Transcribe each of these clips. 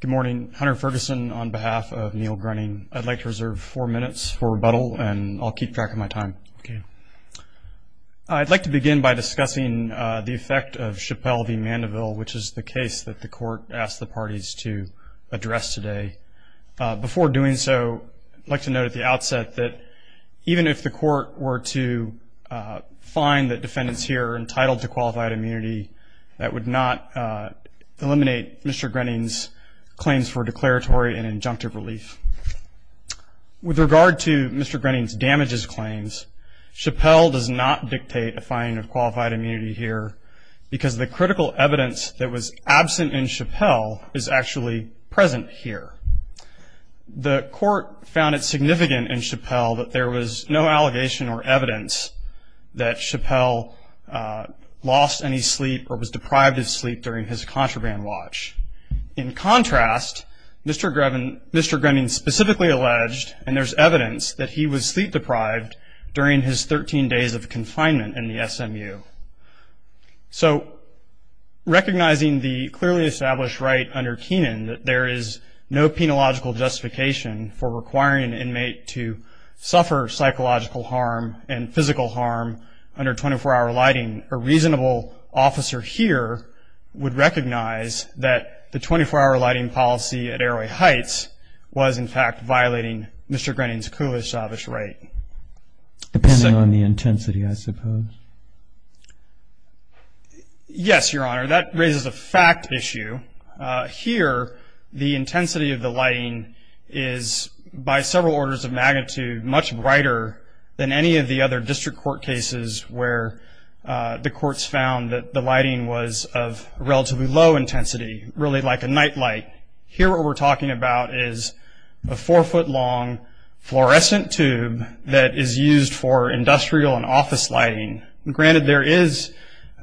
Good morning. Hunter Ferguson on behalf of Neil Grenning. I'd like to reserve four minutes for rebuttal, and I'll keep track of my time. Okay. I'd like to begin by discussing the effect of Chappelle v. Mandeville, which is the case that the court asked the parties to address today. Before doing so, I'd like to note at the outset that even if the court were to find that defendants here are entitled to qualified immunity, that would not eliminate Mr. Grenning's claims for declaratory and injunctive relief. With regard to Mr. Grenning's damages claims, Chappelle does not dictate a finding of qualified immunity here because the critical evidence that was absent in Chappelle is actually present here. The court found it significant in Chappelle that there was no allegation or evidence that Chappelle lost any sleep or was deprived of sleep during his contraband watch. In contrast, Mr. Grenning specifically alleged, and there's evidence, that he was sleep-deprived during his 13 days of confinement in the SMU. So recognizing the clearly established right under Kenan that there is no penological justification for requiring an inmate to suffer psychological harm and physical harm under 24-hour lighting, a reasonable officer here would recognize that the 24-hour lighting policy at Arroway Heights was in fact violating Mr. Grenning's clearly established right. Depending on the intensity, I suppose. Yes, Your Honor. That raises a fact issue. Here, the intensity of the lighting is by several orders of magnitude much brighter than any of the other district court cases where the courts found that the lighting was of relatively low intensity, really like a night light. Here what we're talking about is a four-foot long fluorescent tube that is used for industrial and office lighting. Granted, there is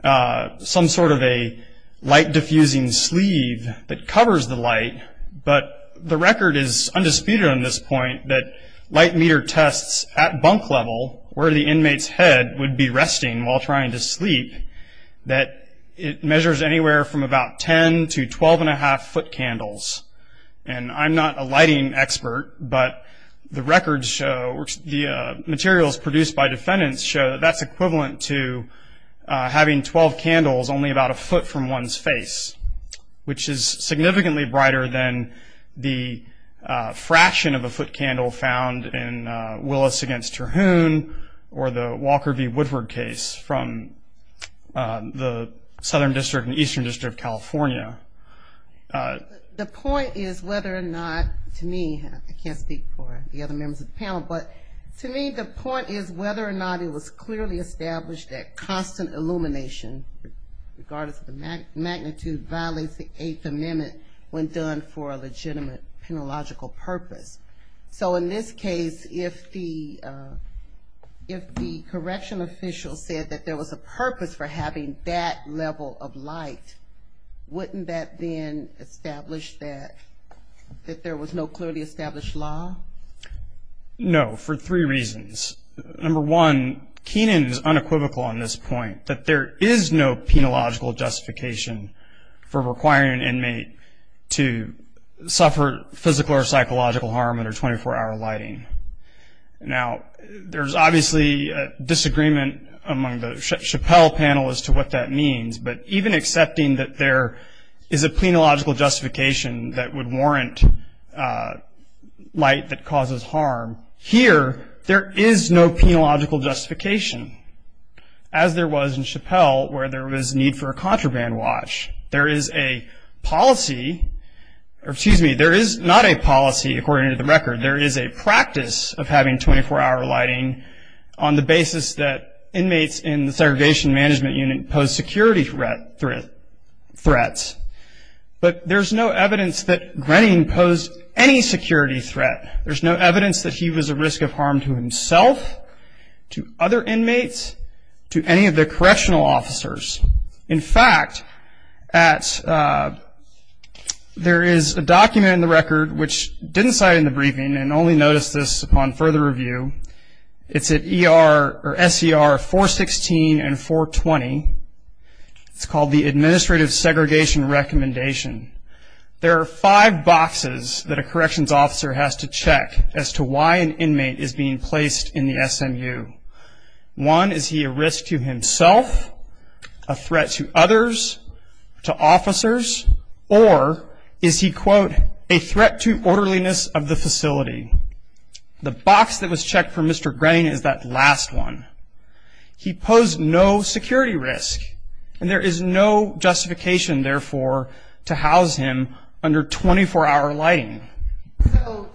some sort of a light-diffusing sleeve that covers the light, but the record is undisputed on this point that light meter tests at bunk level, where the inmate's head would be resting while trying to sleep, that it measures anywhere from about 10 to 12 1⁄2 foot candles. I'm not a lighting expert, but the materials produced by defendants show that that's equivalent to having 12 candles only about a foot from one's face, which is significantly brighter than the fraction of a foot candle found in Willis v. Terhune or the Walker v. Woodward case from the Southern District and Eastern District of California. The point is whether or not, to me, I can't speak for the other members of the panel, but to me the point is whether or not it was clearly established that constant illumination, regardless of the magnitude, violates the Eighth Amendment when done for a legitimate, penological purpose. So in this case, if the correctional official said that there was a purpose for having that level of light, wouldn't that then establish that there was no clearly established law? No, for three reasons. Number one, Kenan is unequivocal on this point that there is no penological justification for requiring an inmate to suffer physical or psychological harm under 24-hour lighting. Now, there's obviously a disagreement among the Chappell panel as to what that means, but even accepting that there is a penological justification that would warrant light that causes harm, here there is no penological justification, as there was in Chappell where there was need for a contraband watch. There is a policy, or excuse me, there is not a policy according to the record. There is a practice of having 24-hour lighting on the basis that inmates in the segregation management unit pose security threats, but there's no evidence that Grenning posed any security threat. There's no evidence that he was a risk of harm to himself, to other inmates, to any of the correctional officers. In fact, there is a document in the record which didn't cite in the briefing and only noticed this upon further review. It's at SER 416 and 420. It's called the Administrative Segregation Recommendation. There are five boxes that a corrections officer has to check as to why an inmate is being placed in the SMU. One, is he a risk to himself, a threat to others, to officers, or is he, quote, a threat to orderliness of the facility? The box that was checked for Mr. Grenning is that last one. He posed no security risk, and there is no justification, therefore, to house him under 24-hour lighting. So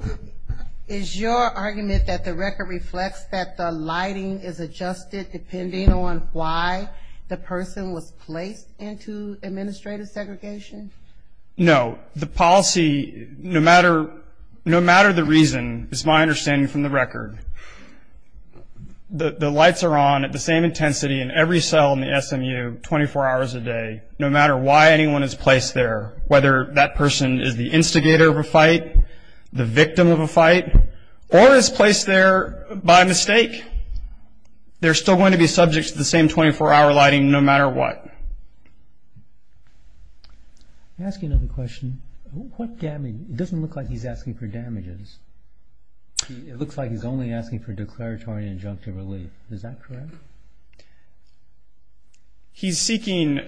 is your argument that the record reflects that the lighting is adjusted depending on why the person was placed into administrative segregation? No. The policy, no matter the reason, is my understanding from the record. The lights are on at the same intensity in every cell in the SMU 24 hours a day, no matter why anyone is placed there, whether that person is the instigator of a fight, the victim of a fight, or is placed there by mistake. They're still going to be subject to the same 24-hour lighting no matter what. Let me ask you another question. It doesn't look like he's asking for damages. It looks like he's only asking for declaratory and injunctive relief. Is that correct? He's seeking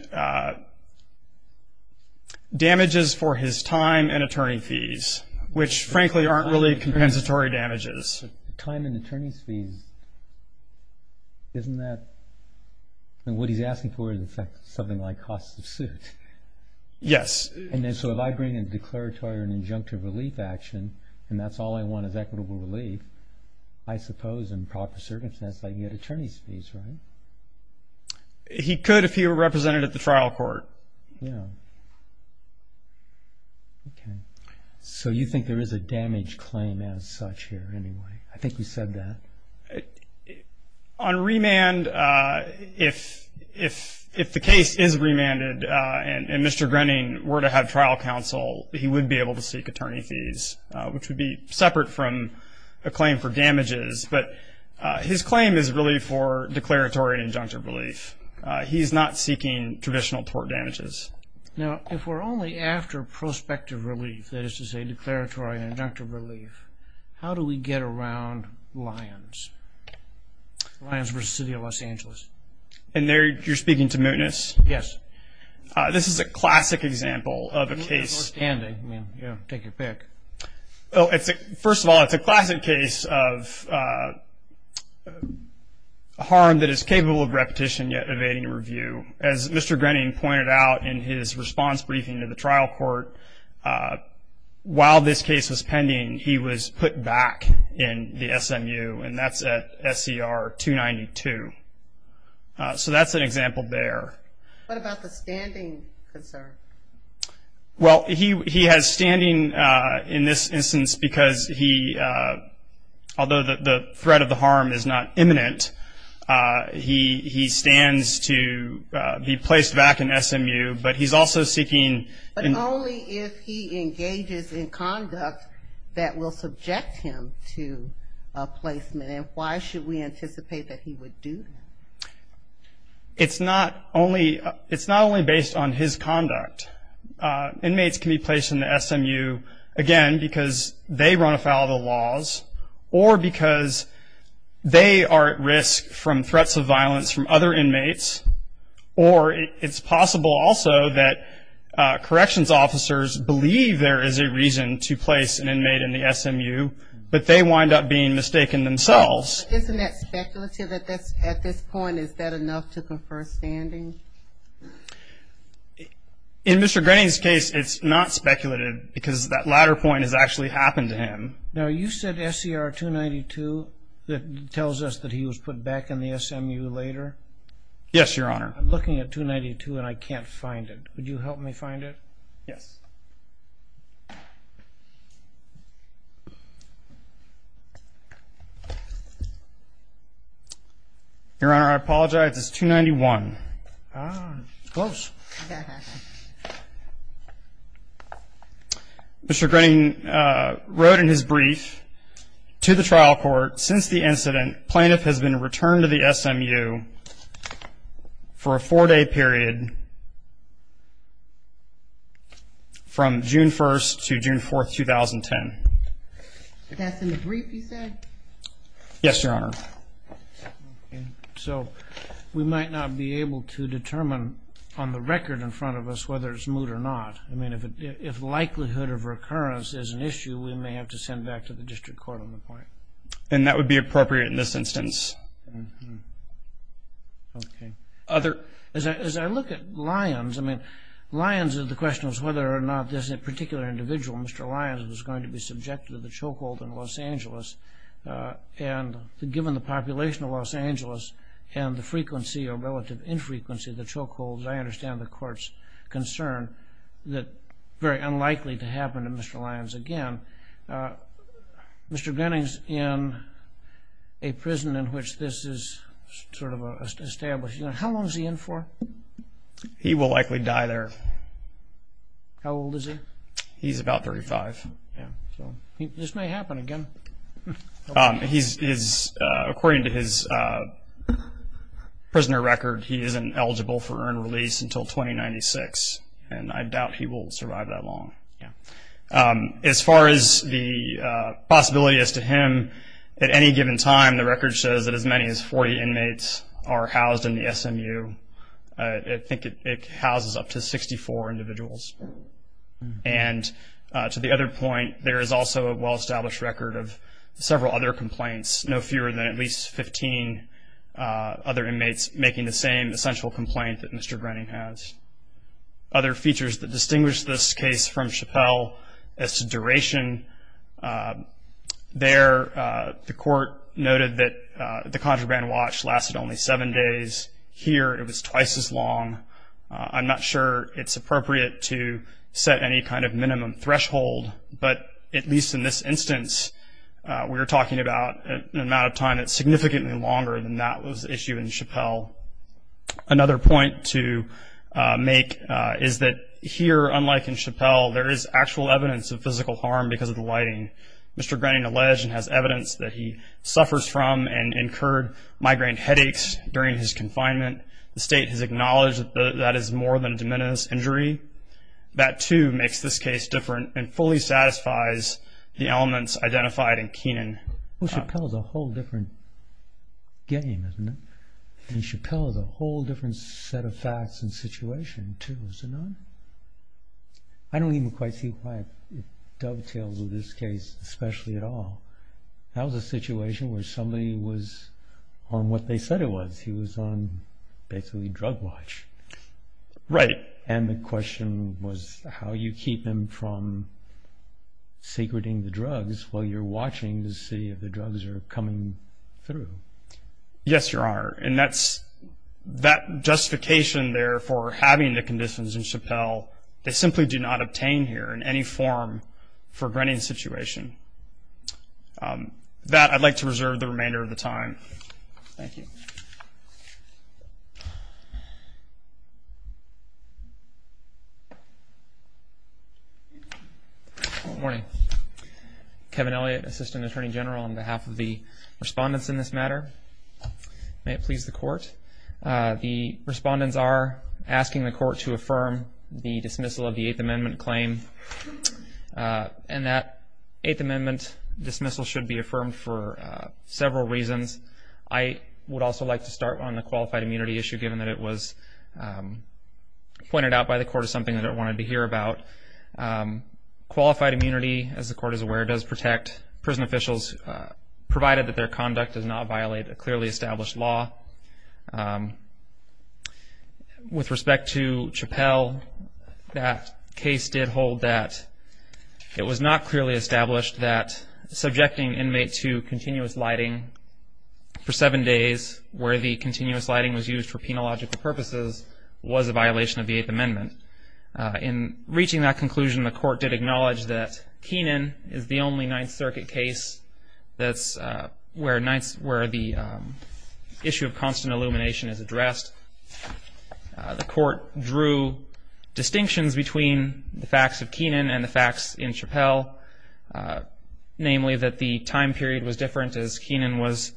damages for his time and attorney fees, which, frankly, aren't really compensatory damages. Time and attorney's fees, isn't that what he's asking for is something like costs of suit? Yes. And so if I bring in declaratory and injunctive relief action, and that's all I want is equitable relief, I suppose in proper circumstances I can get attorney's fees, right? He could if he were represented at the trial court. Yeah. Okay. So you think there is a damage claim as such here anyway? I think you said that. On remand, if the case is remanded and Mr. Grenning were to have trial counsel, he would be able to seek attorney fees, which would be separate from a claim for damages. But his claim is really for declaratory and injunctive relief. He's not seeking traditional tort damages. Now, if we're only after prospective relief, that is to say declaratory and injunctive relief, how do we get around Lyons? Lyons v. City of Los Angeles. And there you're speaking to mootness? Yes. This is a classic example of a case. Mootness or standing, I mean, take your pick. First of all, it's a classic case of a harm that is capable of repetition yet evading review. As Mr. Grenning pointed out in his response briefing to the trial court, while this case was pending, he was put back in the SMU, and that's at SCR 292. So that's an example there. What about the standing concern? Well, he has standing in this instance because he, although the threat of the harm is not imminent, he stands to be placed back in SMU, but he's also seeking. But only if he engages in conduct that will subject him to a placement, and why should we anticipate that he would do that? It's not only based on his conduct. Inmates can be placed in the SMU, again, because they run afoul of the laws or because they are at risk from threats of violence from other inmates, or it's possible also that corrections officers believe there is a reason to place an inmate in the SMU, but they wind up being mistaken themselves. Isn't that speculative at this point? Is that enough to confer standing? In Mr. Grenning's case, it's not speculative because that latter point has actually happened to him. Now, you said SCR 292 that tells us that he was put back in the SMU later? Yes, Your Honor. I'm looking at 292 and I can't find it. Would you help me find it? Yes. Your Honor, I apologize. It's 291. Close. Mr. Grenning wrote in his brief to the trial court, since the incident plaintiff has been returned to the SMU for a four-day period from June 1st to June 4th, 2010. That's in the brief you said? Yes, Your Honor. Okay. So we might not be able to determine on the record in front of us whether it's moot or not. I mean, if likelihood of recurrence is an issue, we may have to send back to the district court on the point. And that would be appropriate in this instance. Okay. As I look at Lyons, I mean, Lyons, the question was whether or not this particular individual, Mr. Lyons, was going to be subjected to the chokehold in Los Angeles. And given the population of Los Angeles and the frequency or relative infrequency of the chokehold, I understand the court's concern that very unlikely to happen to Mr. Lyons again. Mr. Grenning's in a prison in which this is sort of established. How long is he in for? He will likely die there. How old is he? He's about 35. This may happen again. According to his prisoner record, he isn't eligible for earned release until 2096, and I doubt he will survive that long. As far as the possibility as to him, at any given time, the record says that as many as 40 inmates are housed in the SMU. I think it houses up to 64 individuals. And to the other point, there is also a well-established record of several other complaints, no fewer than at least 15 other inmates making the same essential complaint that Mr. Grenning has. Other features that distinguish this case from Chappelle as to duration, there the court noted that the contraband watch lasted only seven days. Here it was twice as long. I'm not sure it's appropriate to set any kind of minimum threshold, but at least in this instance we're talking about an amount of time that's significantly longer than that was the issue in Chappelle. Another point to make is that here, unlike in Chappelle, there is actual evidence of physical harm because of the lighting. Mr. Grenning alleged and has evidence that he suffers from and incurred migraine headaches during his confinement. The state has acknowledged that that is more than de minimis injury. That, too, makes this case different and fully satisfies the elements identified in Keenan. Well, Chappelle is a whole different game, isn't it? And Chappelle is a whole different set of facts and situation, too, is it not? I don't even quite see why it dovetails with this case especially at all. That was a situation where somebody was on what they said it was. He was on basically drug watch. Right. And the question was how you keep him from secreting the drugs while you're watching to see if the drugs are coming through. Yes, Your Honor, and that justification there for having the conditions in Chappelle, they simply do not obtain here in any form for Grenning's situation. That I'd like to reserve the remainder of the time. All right. Thank you. Good morning. Kevin Elliott, Assistant Attorney General, on behalf of the respondents in this matter. May it please the Court. The respondents are asking the Court to affirm the dismissal of the Eighth Amendment claim, and that Eighth Amendment dismissal should be affirmed for several reasons. I would also like to start on the qualified immunity issue, given that it was pointed out by the Court as something that it wanted to hear about. Qualified immunity, as the Court is aware, does protect prison officials, provided that their conduct does not violate a clearly established law. With respect to Chappelle, that case did hold that it was not clearly established that subjecting an inmate to continuous lighting for seven days, where the continuous lighting was used for penological purposes, was a violation of the Eighth Amendment. In reaching that conclusion, the Court did acknowledge that Kenan is the only Ninth Circuit case where the issue of constant illumination is addressed. The Court drew distinctions between the facts of Kenan and the facts in Chappelle, namely that the time period was different, as Kenan was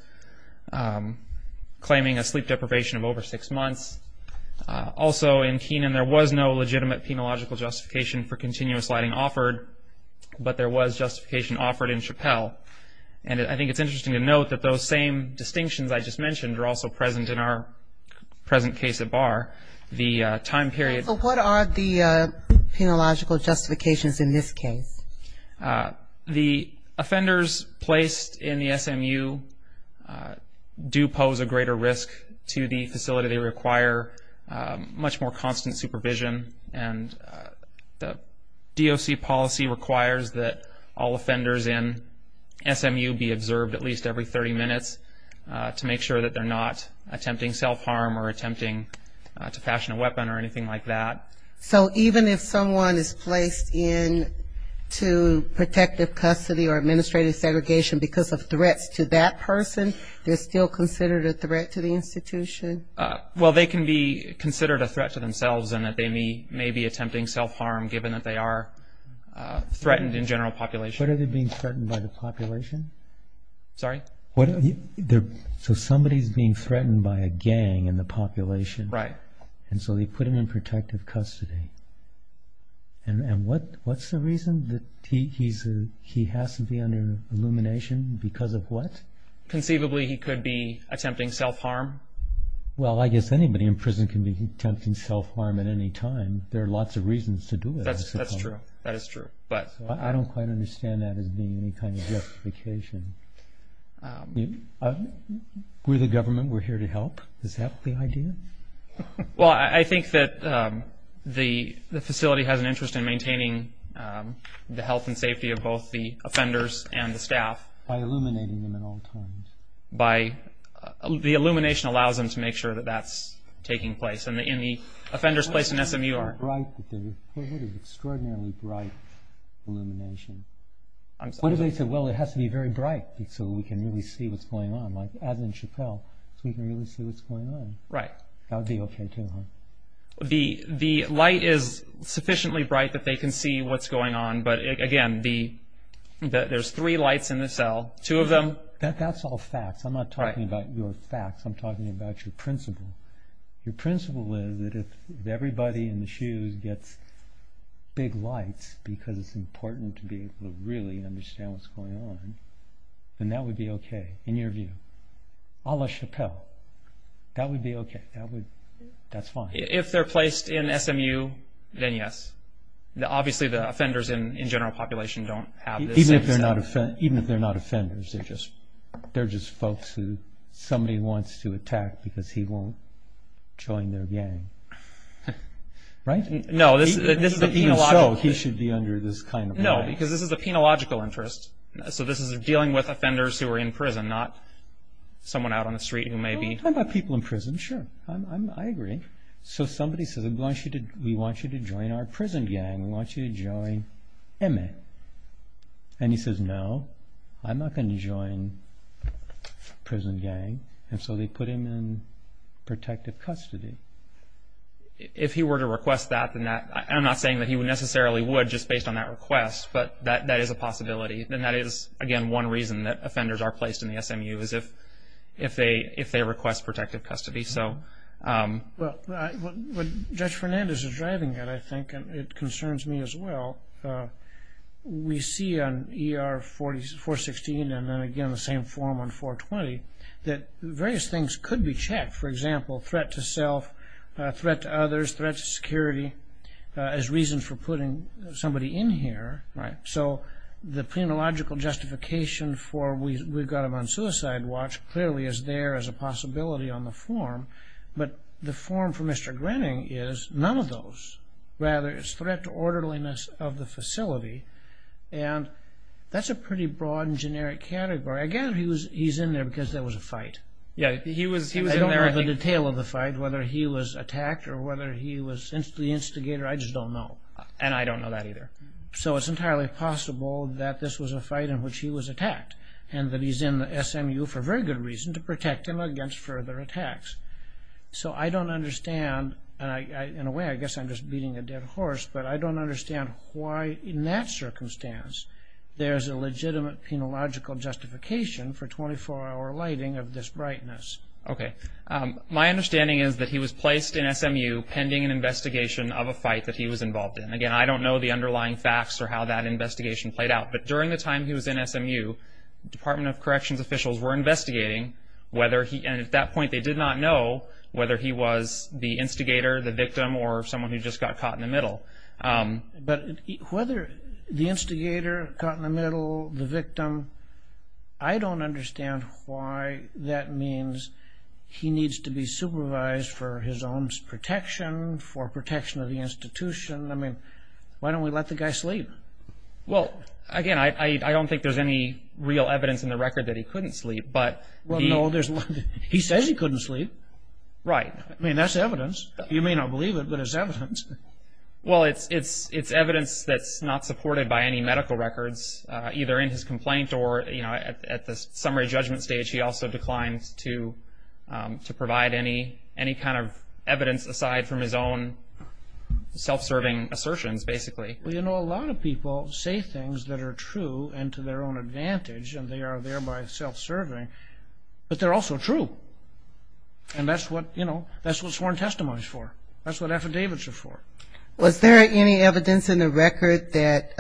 claiming a sleep deprivation of over six months. Also, in Kenan, there was no legitimate penological justification for continuous lighting offered, but there was justification offered in Chappelle. And I think it's interesting to note that those same distinctions I just mentioned are also present in our present case at bar. The time period... So what are the penological justifications in this case? The offenders placed in the SMU do pose a greater risk to the facility. They require much more constant supervision. And the DOC policy requires that all offenders in SMU be observed at least every 30 minutes to make sure that they're not attempting self-harm or attempting to fashion a weapon or anything like that. So even if someone is placed into protective custody or administrative segregation because of threats to that person, they're still considered a threat to the institution? Well, they can be considered a threat to themselves and that they may be attempting self-harm given that they are threatened in general population. But are they being threatened by the population? Sorry? So somebody's being threatened by a gang in the population. Right. And so they put him in protective custody. And what's the reason that he has to be under illumination? Because of what? Conceivably, he could be attempting self-harm. Well, I guess anybody in prison can be attempting self-harm at any time. There are lots of reasons to do it, I suppose. That's true. That is true. I don't quite understand that as being any kind of justification. We're the government. We're here to help. Is that the idea? Well, I think that the facility has an interest in maintaining the health and safety of both the offenders and the staff. By illuminating them at all times? The illumination allows them to make sure that that's taking place. And the offenders placed in SMU are bright. What is extraordinarily bright illumination? I'm sorry? What if they said, well, it has to be very bright so we can really see what's going on, like as in Chappelle, so we can really see what's going on? Right. That would be okay, too, huh? The light is sufficiently bright that they can see what's going on. But again, there's three lights in the cell, two of them. That's all facts. I'm not talking about your facts. I'm talking about your principle. Your principle is that if everybody in the shoes gets big lights because it's important to be able to really understand what's going on, then that would be okay, in your view. A la Chappelle, that would be okay. That's fine. If they're placed in SMU, then yes. Obviously, the offenders in general population don't have this. Even if they're not offenders. They're just folks who somebody wants to attack because he won't join their gang. Right? No. Even so, he should be under this kind of light. No, because this is a penological interest. So this is dealing with offenders who are in prison, not someone out on the street who may be... I'm talking about people in prison, sure. I agree. Somebody says, we want you to join our prison gang. We want you to join MA. He says, no, I'm not going to join prison gang. So they put him in protective custody. If he were to request that... I'm not saying that he necessarily would just based on that request, but that is a possibility. That is, again, one reason that offenders are placed in the SMU is if they request protective custody. Well, what Judge Fernandez is driving at, I think, and it concerns me as well, we see on ER 416 and then again the same form on 420, that various things could be checked. For example, threat to self, threat to others, threat to security, as reasons for putting somebody in here. So the penological justification for we've got him on suicide watch clearly is there as a possibility on the form, but the form for Mr. Grenning is none of those. Rather, it's threat to orderliness of the facility, and that's a pretty broad and generic category. Again, he's in there because there was a fight. I don't know the detail of the fight, whether he was attacked or whether he was the instigator. I just don't know. And I don't know that either. So it's entirely possible that this was a fight in which he was attacked and that he's in the SMU for a very good reason, to protect him against further attacks. So I don't understand, and in a way I guess I'm just beating a dead horse, but I don't understand why in that circumstance there's a legitimate penological justification for 24-hour lighting of this brightness. Okay. My understanding is that he was placed in SMU pending an investigation of a fight that he was involved in. Again, I don't know the underlying facts or how that investigation played out, but during the time he was in SMU, Department of Corrections officials were investigating whether he, and at that point they did not know whether he was the instigator, the victim, or someone who just got caught in the middle. But whether the instigator, caught in the middle, the victim, I don't understand why that means he needs to be supervised for his own protection, for protection of the institution. I mean, why don't we let the guy sleep? Well, again, I don't think there's any real evidence in the record that he couldn't sleep. Well, no, he says he couldn't sleep. Right. I mean, that's evidence. You may not believe it, but it's evidence. Well, it's evidence that's not supported by any medical records, either in his complaint or at the summary judgment stage. He also declines to provide any kind of evidence aside from his own self-serving assertions, basically. Well, you know, a lot of people say things that are true and to their own advantage, and they are thereby self-serving, but they're also true. And that's what sworn testimony is for. That's what affidavits are for. Was there any evidence in the record that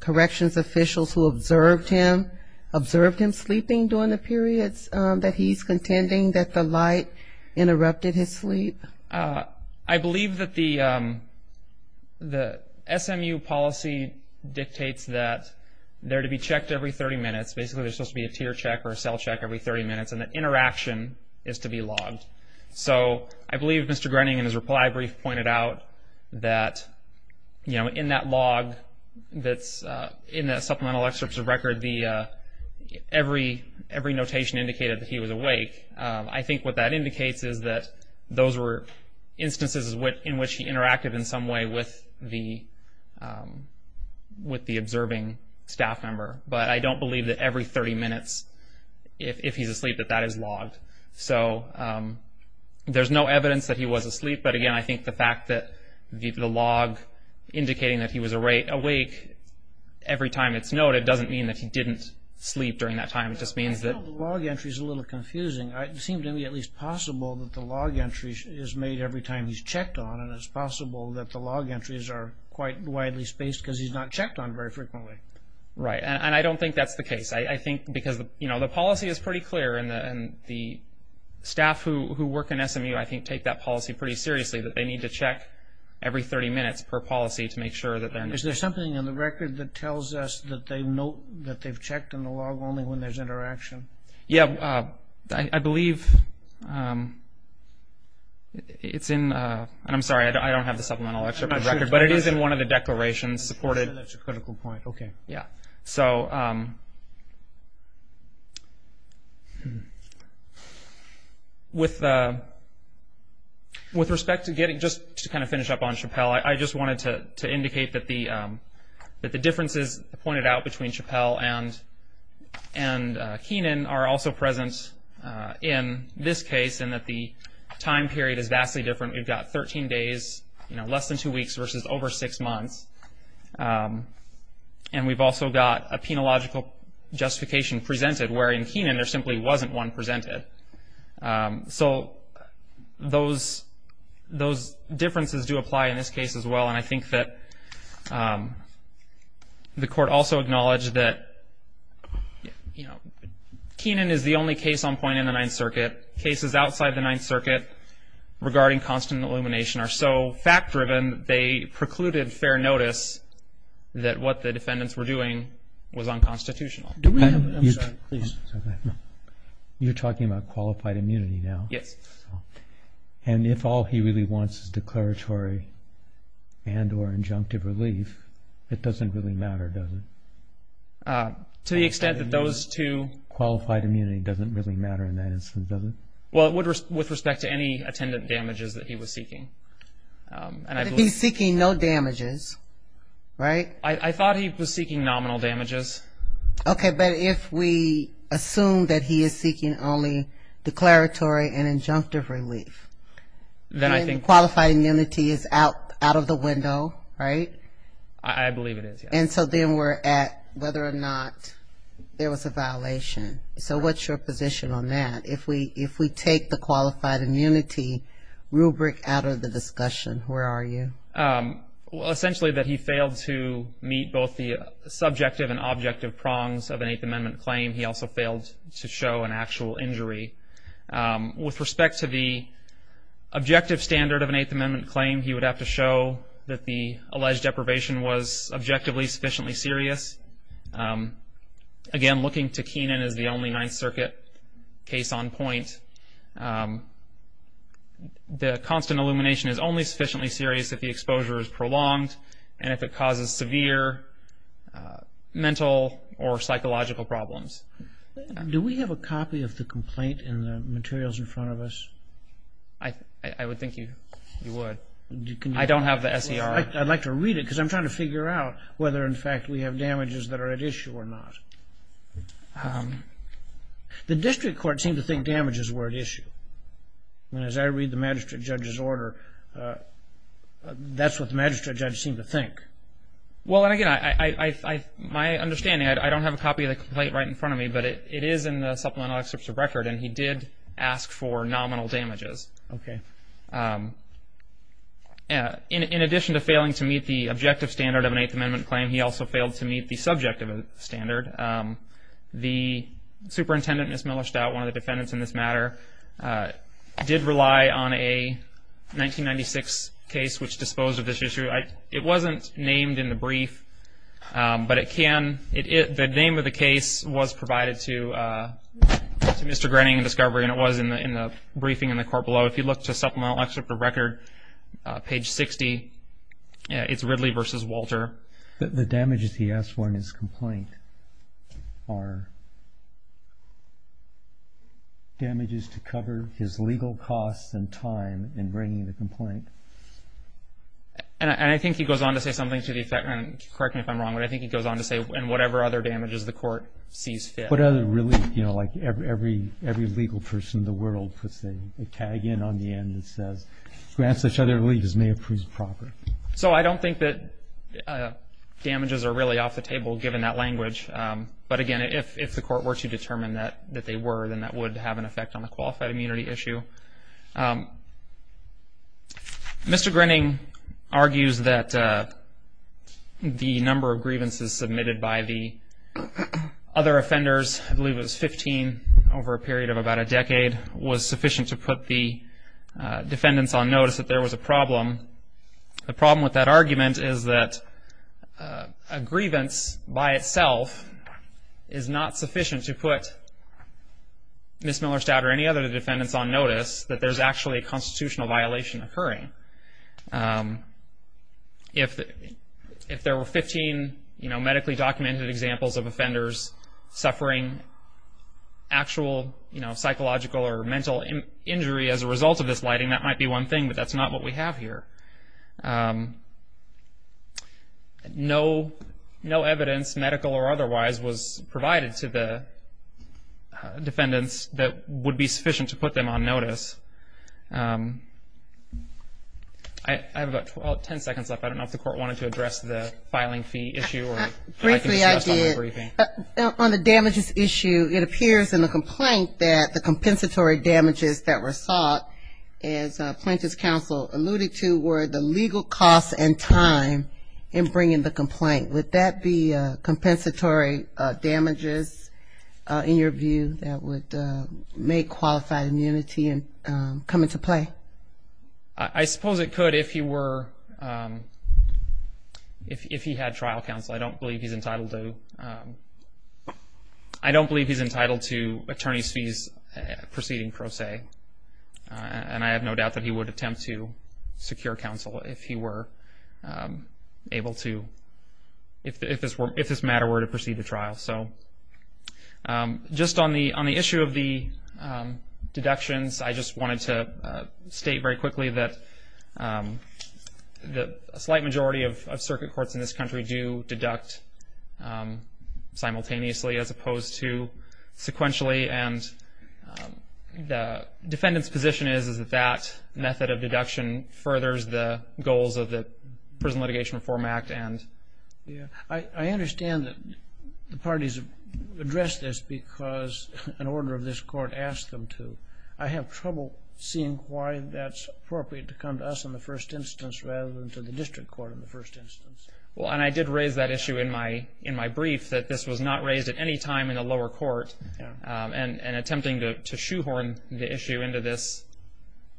corrections officials who observed him, observed him sleeping during the periods that he's contending that the light interrupted his sleep? I believe that the SMU policy dictates that they're to be checked every 30 minutes. Basically, there's supposed to be a tear check or a cell check every 30 minutes, and that interaction is to be logged. So I believe Mr. Grenning in his reply brief pointed out that, you know, in that log that's in the supplemental excerpts of record, every notation indicated that he was awake. I think what that indicates is that those were instances in which he interacted in some way with the observing staff member. But I don't believe that every 30 minutes, if he's asleep, that that is logged. So there's no evidence that he was asleep, but again, I think the fact that the log indicating that he was awake every time it's noted, doesn't mean that he didn't sleep during that time. It just means that... The log entry is a little confusing. It seems to me at least possible that the log entry is made every time he's checked on, and it's possible that the log entries are quite widely spaced because he's not checked on very frequently. Right, and I don't think that's the case. I think because, you know, the policy is pretty clear, and the staff who work in SMU, I think, take that policy pretty seriously, that they need to check every 30 minutes per policy to make sure that... Is there something in the record that tells us that they've checked on the log only when there's interaction? Yeah, I believe it's in... I'm sorry, I don't have the supplemental excerpt of the record, but it is in one of the declarations supported... That's a critical point, okay. Yeah, so... With respect to getting... Just to kind of finish up on Chappell, I just wanted to indicate that the differences pointed out between Chappell and Heenan are also present in this case, and that the time period is vastly different. We've got 13 days, you know, less than two weeks versus over six months, and we've also got a penological justification presented, where in Heenan there simply wasn't one presented. So those differences do apply in this case as well, and I think that the court also acknowledged that, you know, Heenan is the only case on point in the Ninth Circuit. Cases outside the Ninth Circuit regarding constant illumination are so fact-driven they precluded fair notice that what the defendants were doing was unconstitutional. I'm sorry, please. You're talking about qualified immunity now? Yes. And if all he really wants is declaratory and or injunctive relief, it doesn't really matter, does it? To the extent that those two... Qualified immunity doesn't really matter in that instance, does it? Well, with respect to any attendant damages that he was seeking. If he's seeking no damages, right? I thought he was seeking nominal damages. Okay, but if we assume that he is seeking only declaratory and injunctive relief, then qualified immunity is out of the window, right? I believe it is, yes. And so then we're at whether or not there was a violation. So what's your position on that? If we take the qualified immunity rubric out of the discussion, where are you? Well, essentially that he failed to meet both the subjective and objective prongs of an Eighth Amendment claim. He also failed to show an actual injury. With respect to the objective standard of an Eighth Amendment claim, he would have to show that the alleged deprivation was objectively sufficiently serious. Again, looking to Kenan as the only Ninth Circuit case on point, the constant illumination is only sufficiently serious if the exposure is prolonged and if it causes severe mental or psychological problems. Do we have a copy of the complaint in the materials in front of us? I would think you would. I don't have the SER. I'd like to read it because I'm trying to figure out whether, in fact, we have damages that are at issue or not. The district court seemed to think damages were at issue. As I read the magistrate judge's order, that's what the magistrate judge seemed to think. Well, again, my understanding, I don't have a copy of the complaint right in front of me, but it is in the supplemental excerpts of record, and he did ask for nominal damages. Okay. In addition to failing to meet the objective standard of an Eighth Amendment claim, he also failed to meet the subjective standard. The superintendent, Ms. Miller-Stout, one of the defendants in this matter, did rely on a 1996 case which disposed of this issue. It wasn't named in the brief, but it can. The name of the case was provided to Mr. Grenning in discovery, and it was in the briefing in the court below. If you look to supplemental excerpt of record, page 60, it's Ridley v. Walter. The damages he asked for in his complaint are damages to cover his legal costs and time in bringing the complaint. I think he goes on to say something to the effect, and correct me if I'm wrong, but I think he goes on to say whatever other damages the court sees fit. What other relief? You know, like every legal person in the world puts a tag in on the end that says, grant such other relief as may approve proper. So I don't think that damages are really off the table, given that language. But again, if the court were to determine that they were, then that would have an effect on the qualified immunity issue. Mr. Grenning argues that the number of grievances submitted by the other offenders, I believe it was 15 over a period of about a decade, was sufficient to put the defendants on notice that there was a problem. The problem with that argument is that a grievance by itself is not sufficient to put Ms. Miller-Stout or any other defendants on notice that there's actually a constitutional violation occurring. If there were 15 medically documented examples of offenders suffering actual psychological or mental injury as a result of this lighting, that might be one thing, but that's not what we have here. No evidence, medical or otherwise, was provided to the defendants that would be sufficient to put them on notice. I have about 10 seconds left. I don't know if the court wanted to address the filing fee issue. Briefly, I did. On the damages issue, it appears in the complaint that the compensatory damages that were sought, as plaintiff's counsel alluded to, were the legal cost and time in bringing the complaint. Would that be compensatory damages, in your view, that would make qualified immunity come into play? I suppose it could if he had trial counsel. I don't believe he's entitled to. Attorney's fees proceeding pro se, and I have no doubt that he would attempt to secure counsel if he were able to, if this matter were to proceed to trial. Just on the issue of the deductions, I just wanted to state very quickly that a slight majority of circuit courts in this country do deduct simultaneously as opposed to sequentially, and the defendant's position is that that method of deduction furthers the goals of the Prison Litigation Reform Act. I understand that the parties have addressed this because an order of this court asked them to. I have trouble seeing why that's appropriate to come to us in the first instance rather than to the district court in the first instance. Well, and I did raise that issue in my brief, that this was not raised at any time in the lower court, and attempting to shoehorn the issue into this,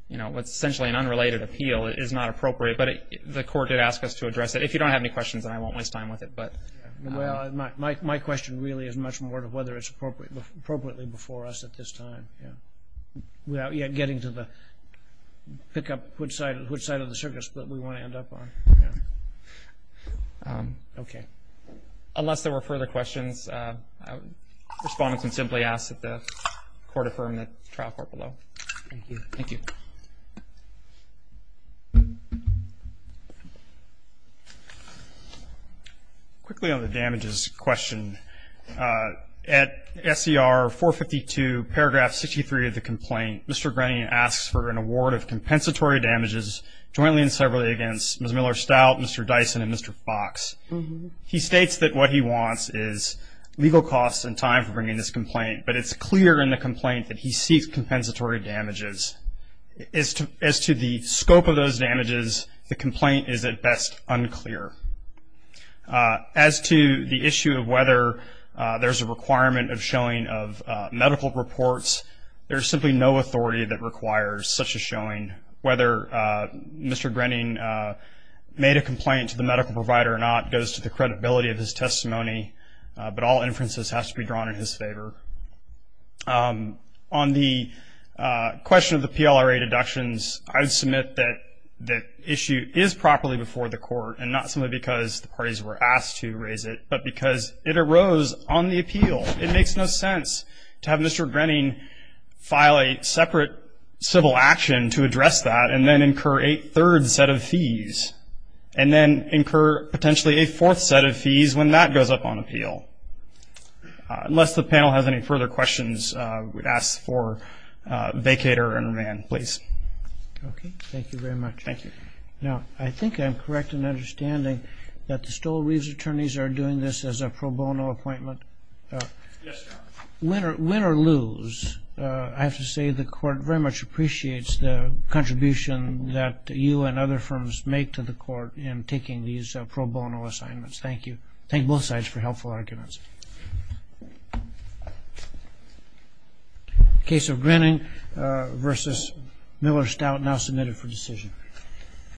what's essentially an unrelated appeal is not appropriate, but the court did ask us to address it. If you don't have any questions, then I won't waste time with it. Well, my question really is much more of whether it's appropriately before us at this time, without yet getting to pick up which side of the circuit we want to end up on. Okay. Unless there were further questions, respondents can simply ask that the court affirm the trial court below. Thank you. Thank you. Quickly on the damages question. At SCR 452, paragraph 63 of the complaint, Mr. Grenier asks for an award of compensatory damages jointly and severally against Ms. Miller-Stout, Mr. Dyson, and Mr. Fox. He states that what he wants is legal costs and time for bringing this complaint, but it's clear in the complaint that he seeks compensatory damages. As to the scope of those damages, the complaint is at best unclear. As to the issue of whether there's a requirement of showing of medical reports, there's simply no authority that requires such a showing. Whether Mr. Grenier made a complaint to the medical provider or not goes to the credibility of his testimony, but all inferences have to be drawn in his favor. On the question of the PLRA deductions, I would submit that the issue is properly before the court and not simply because the parties were asked to raise it, but because it arose on the appeal. It makes no sense to have Mr. Grenier file a separate civil action to address that and then incur a third set of fees and then incur potentially a fourth set of fees when that goes up on appeal. Unless the panel has any further questions, we'd ask for vacater and remand, please. Okay. Thank you very much. Thank you. Now, I think I'm correct in understanding that the Stoll-Reeves attorneys are doing this as a pro bono appointment. Yes, Your Honor. Win or lose, I have to say the court very much appreciates the contribution that you and other firms make to the court in taking these pro bono assignments. Thank you. Thank both sides for helpful arguments. The case of Grenier v. Miller-Stout now submitted for decision.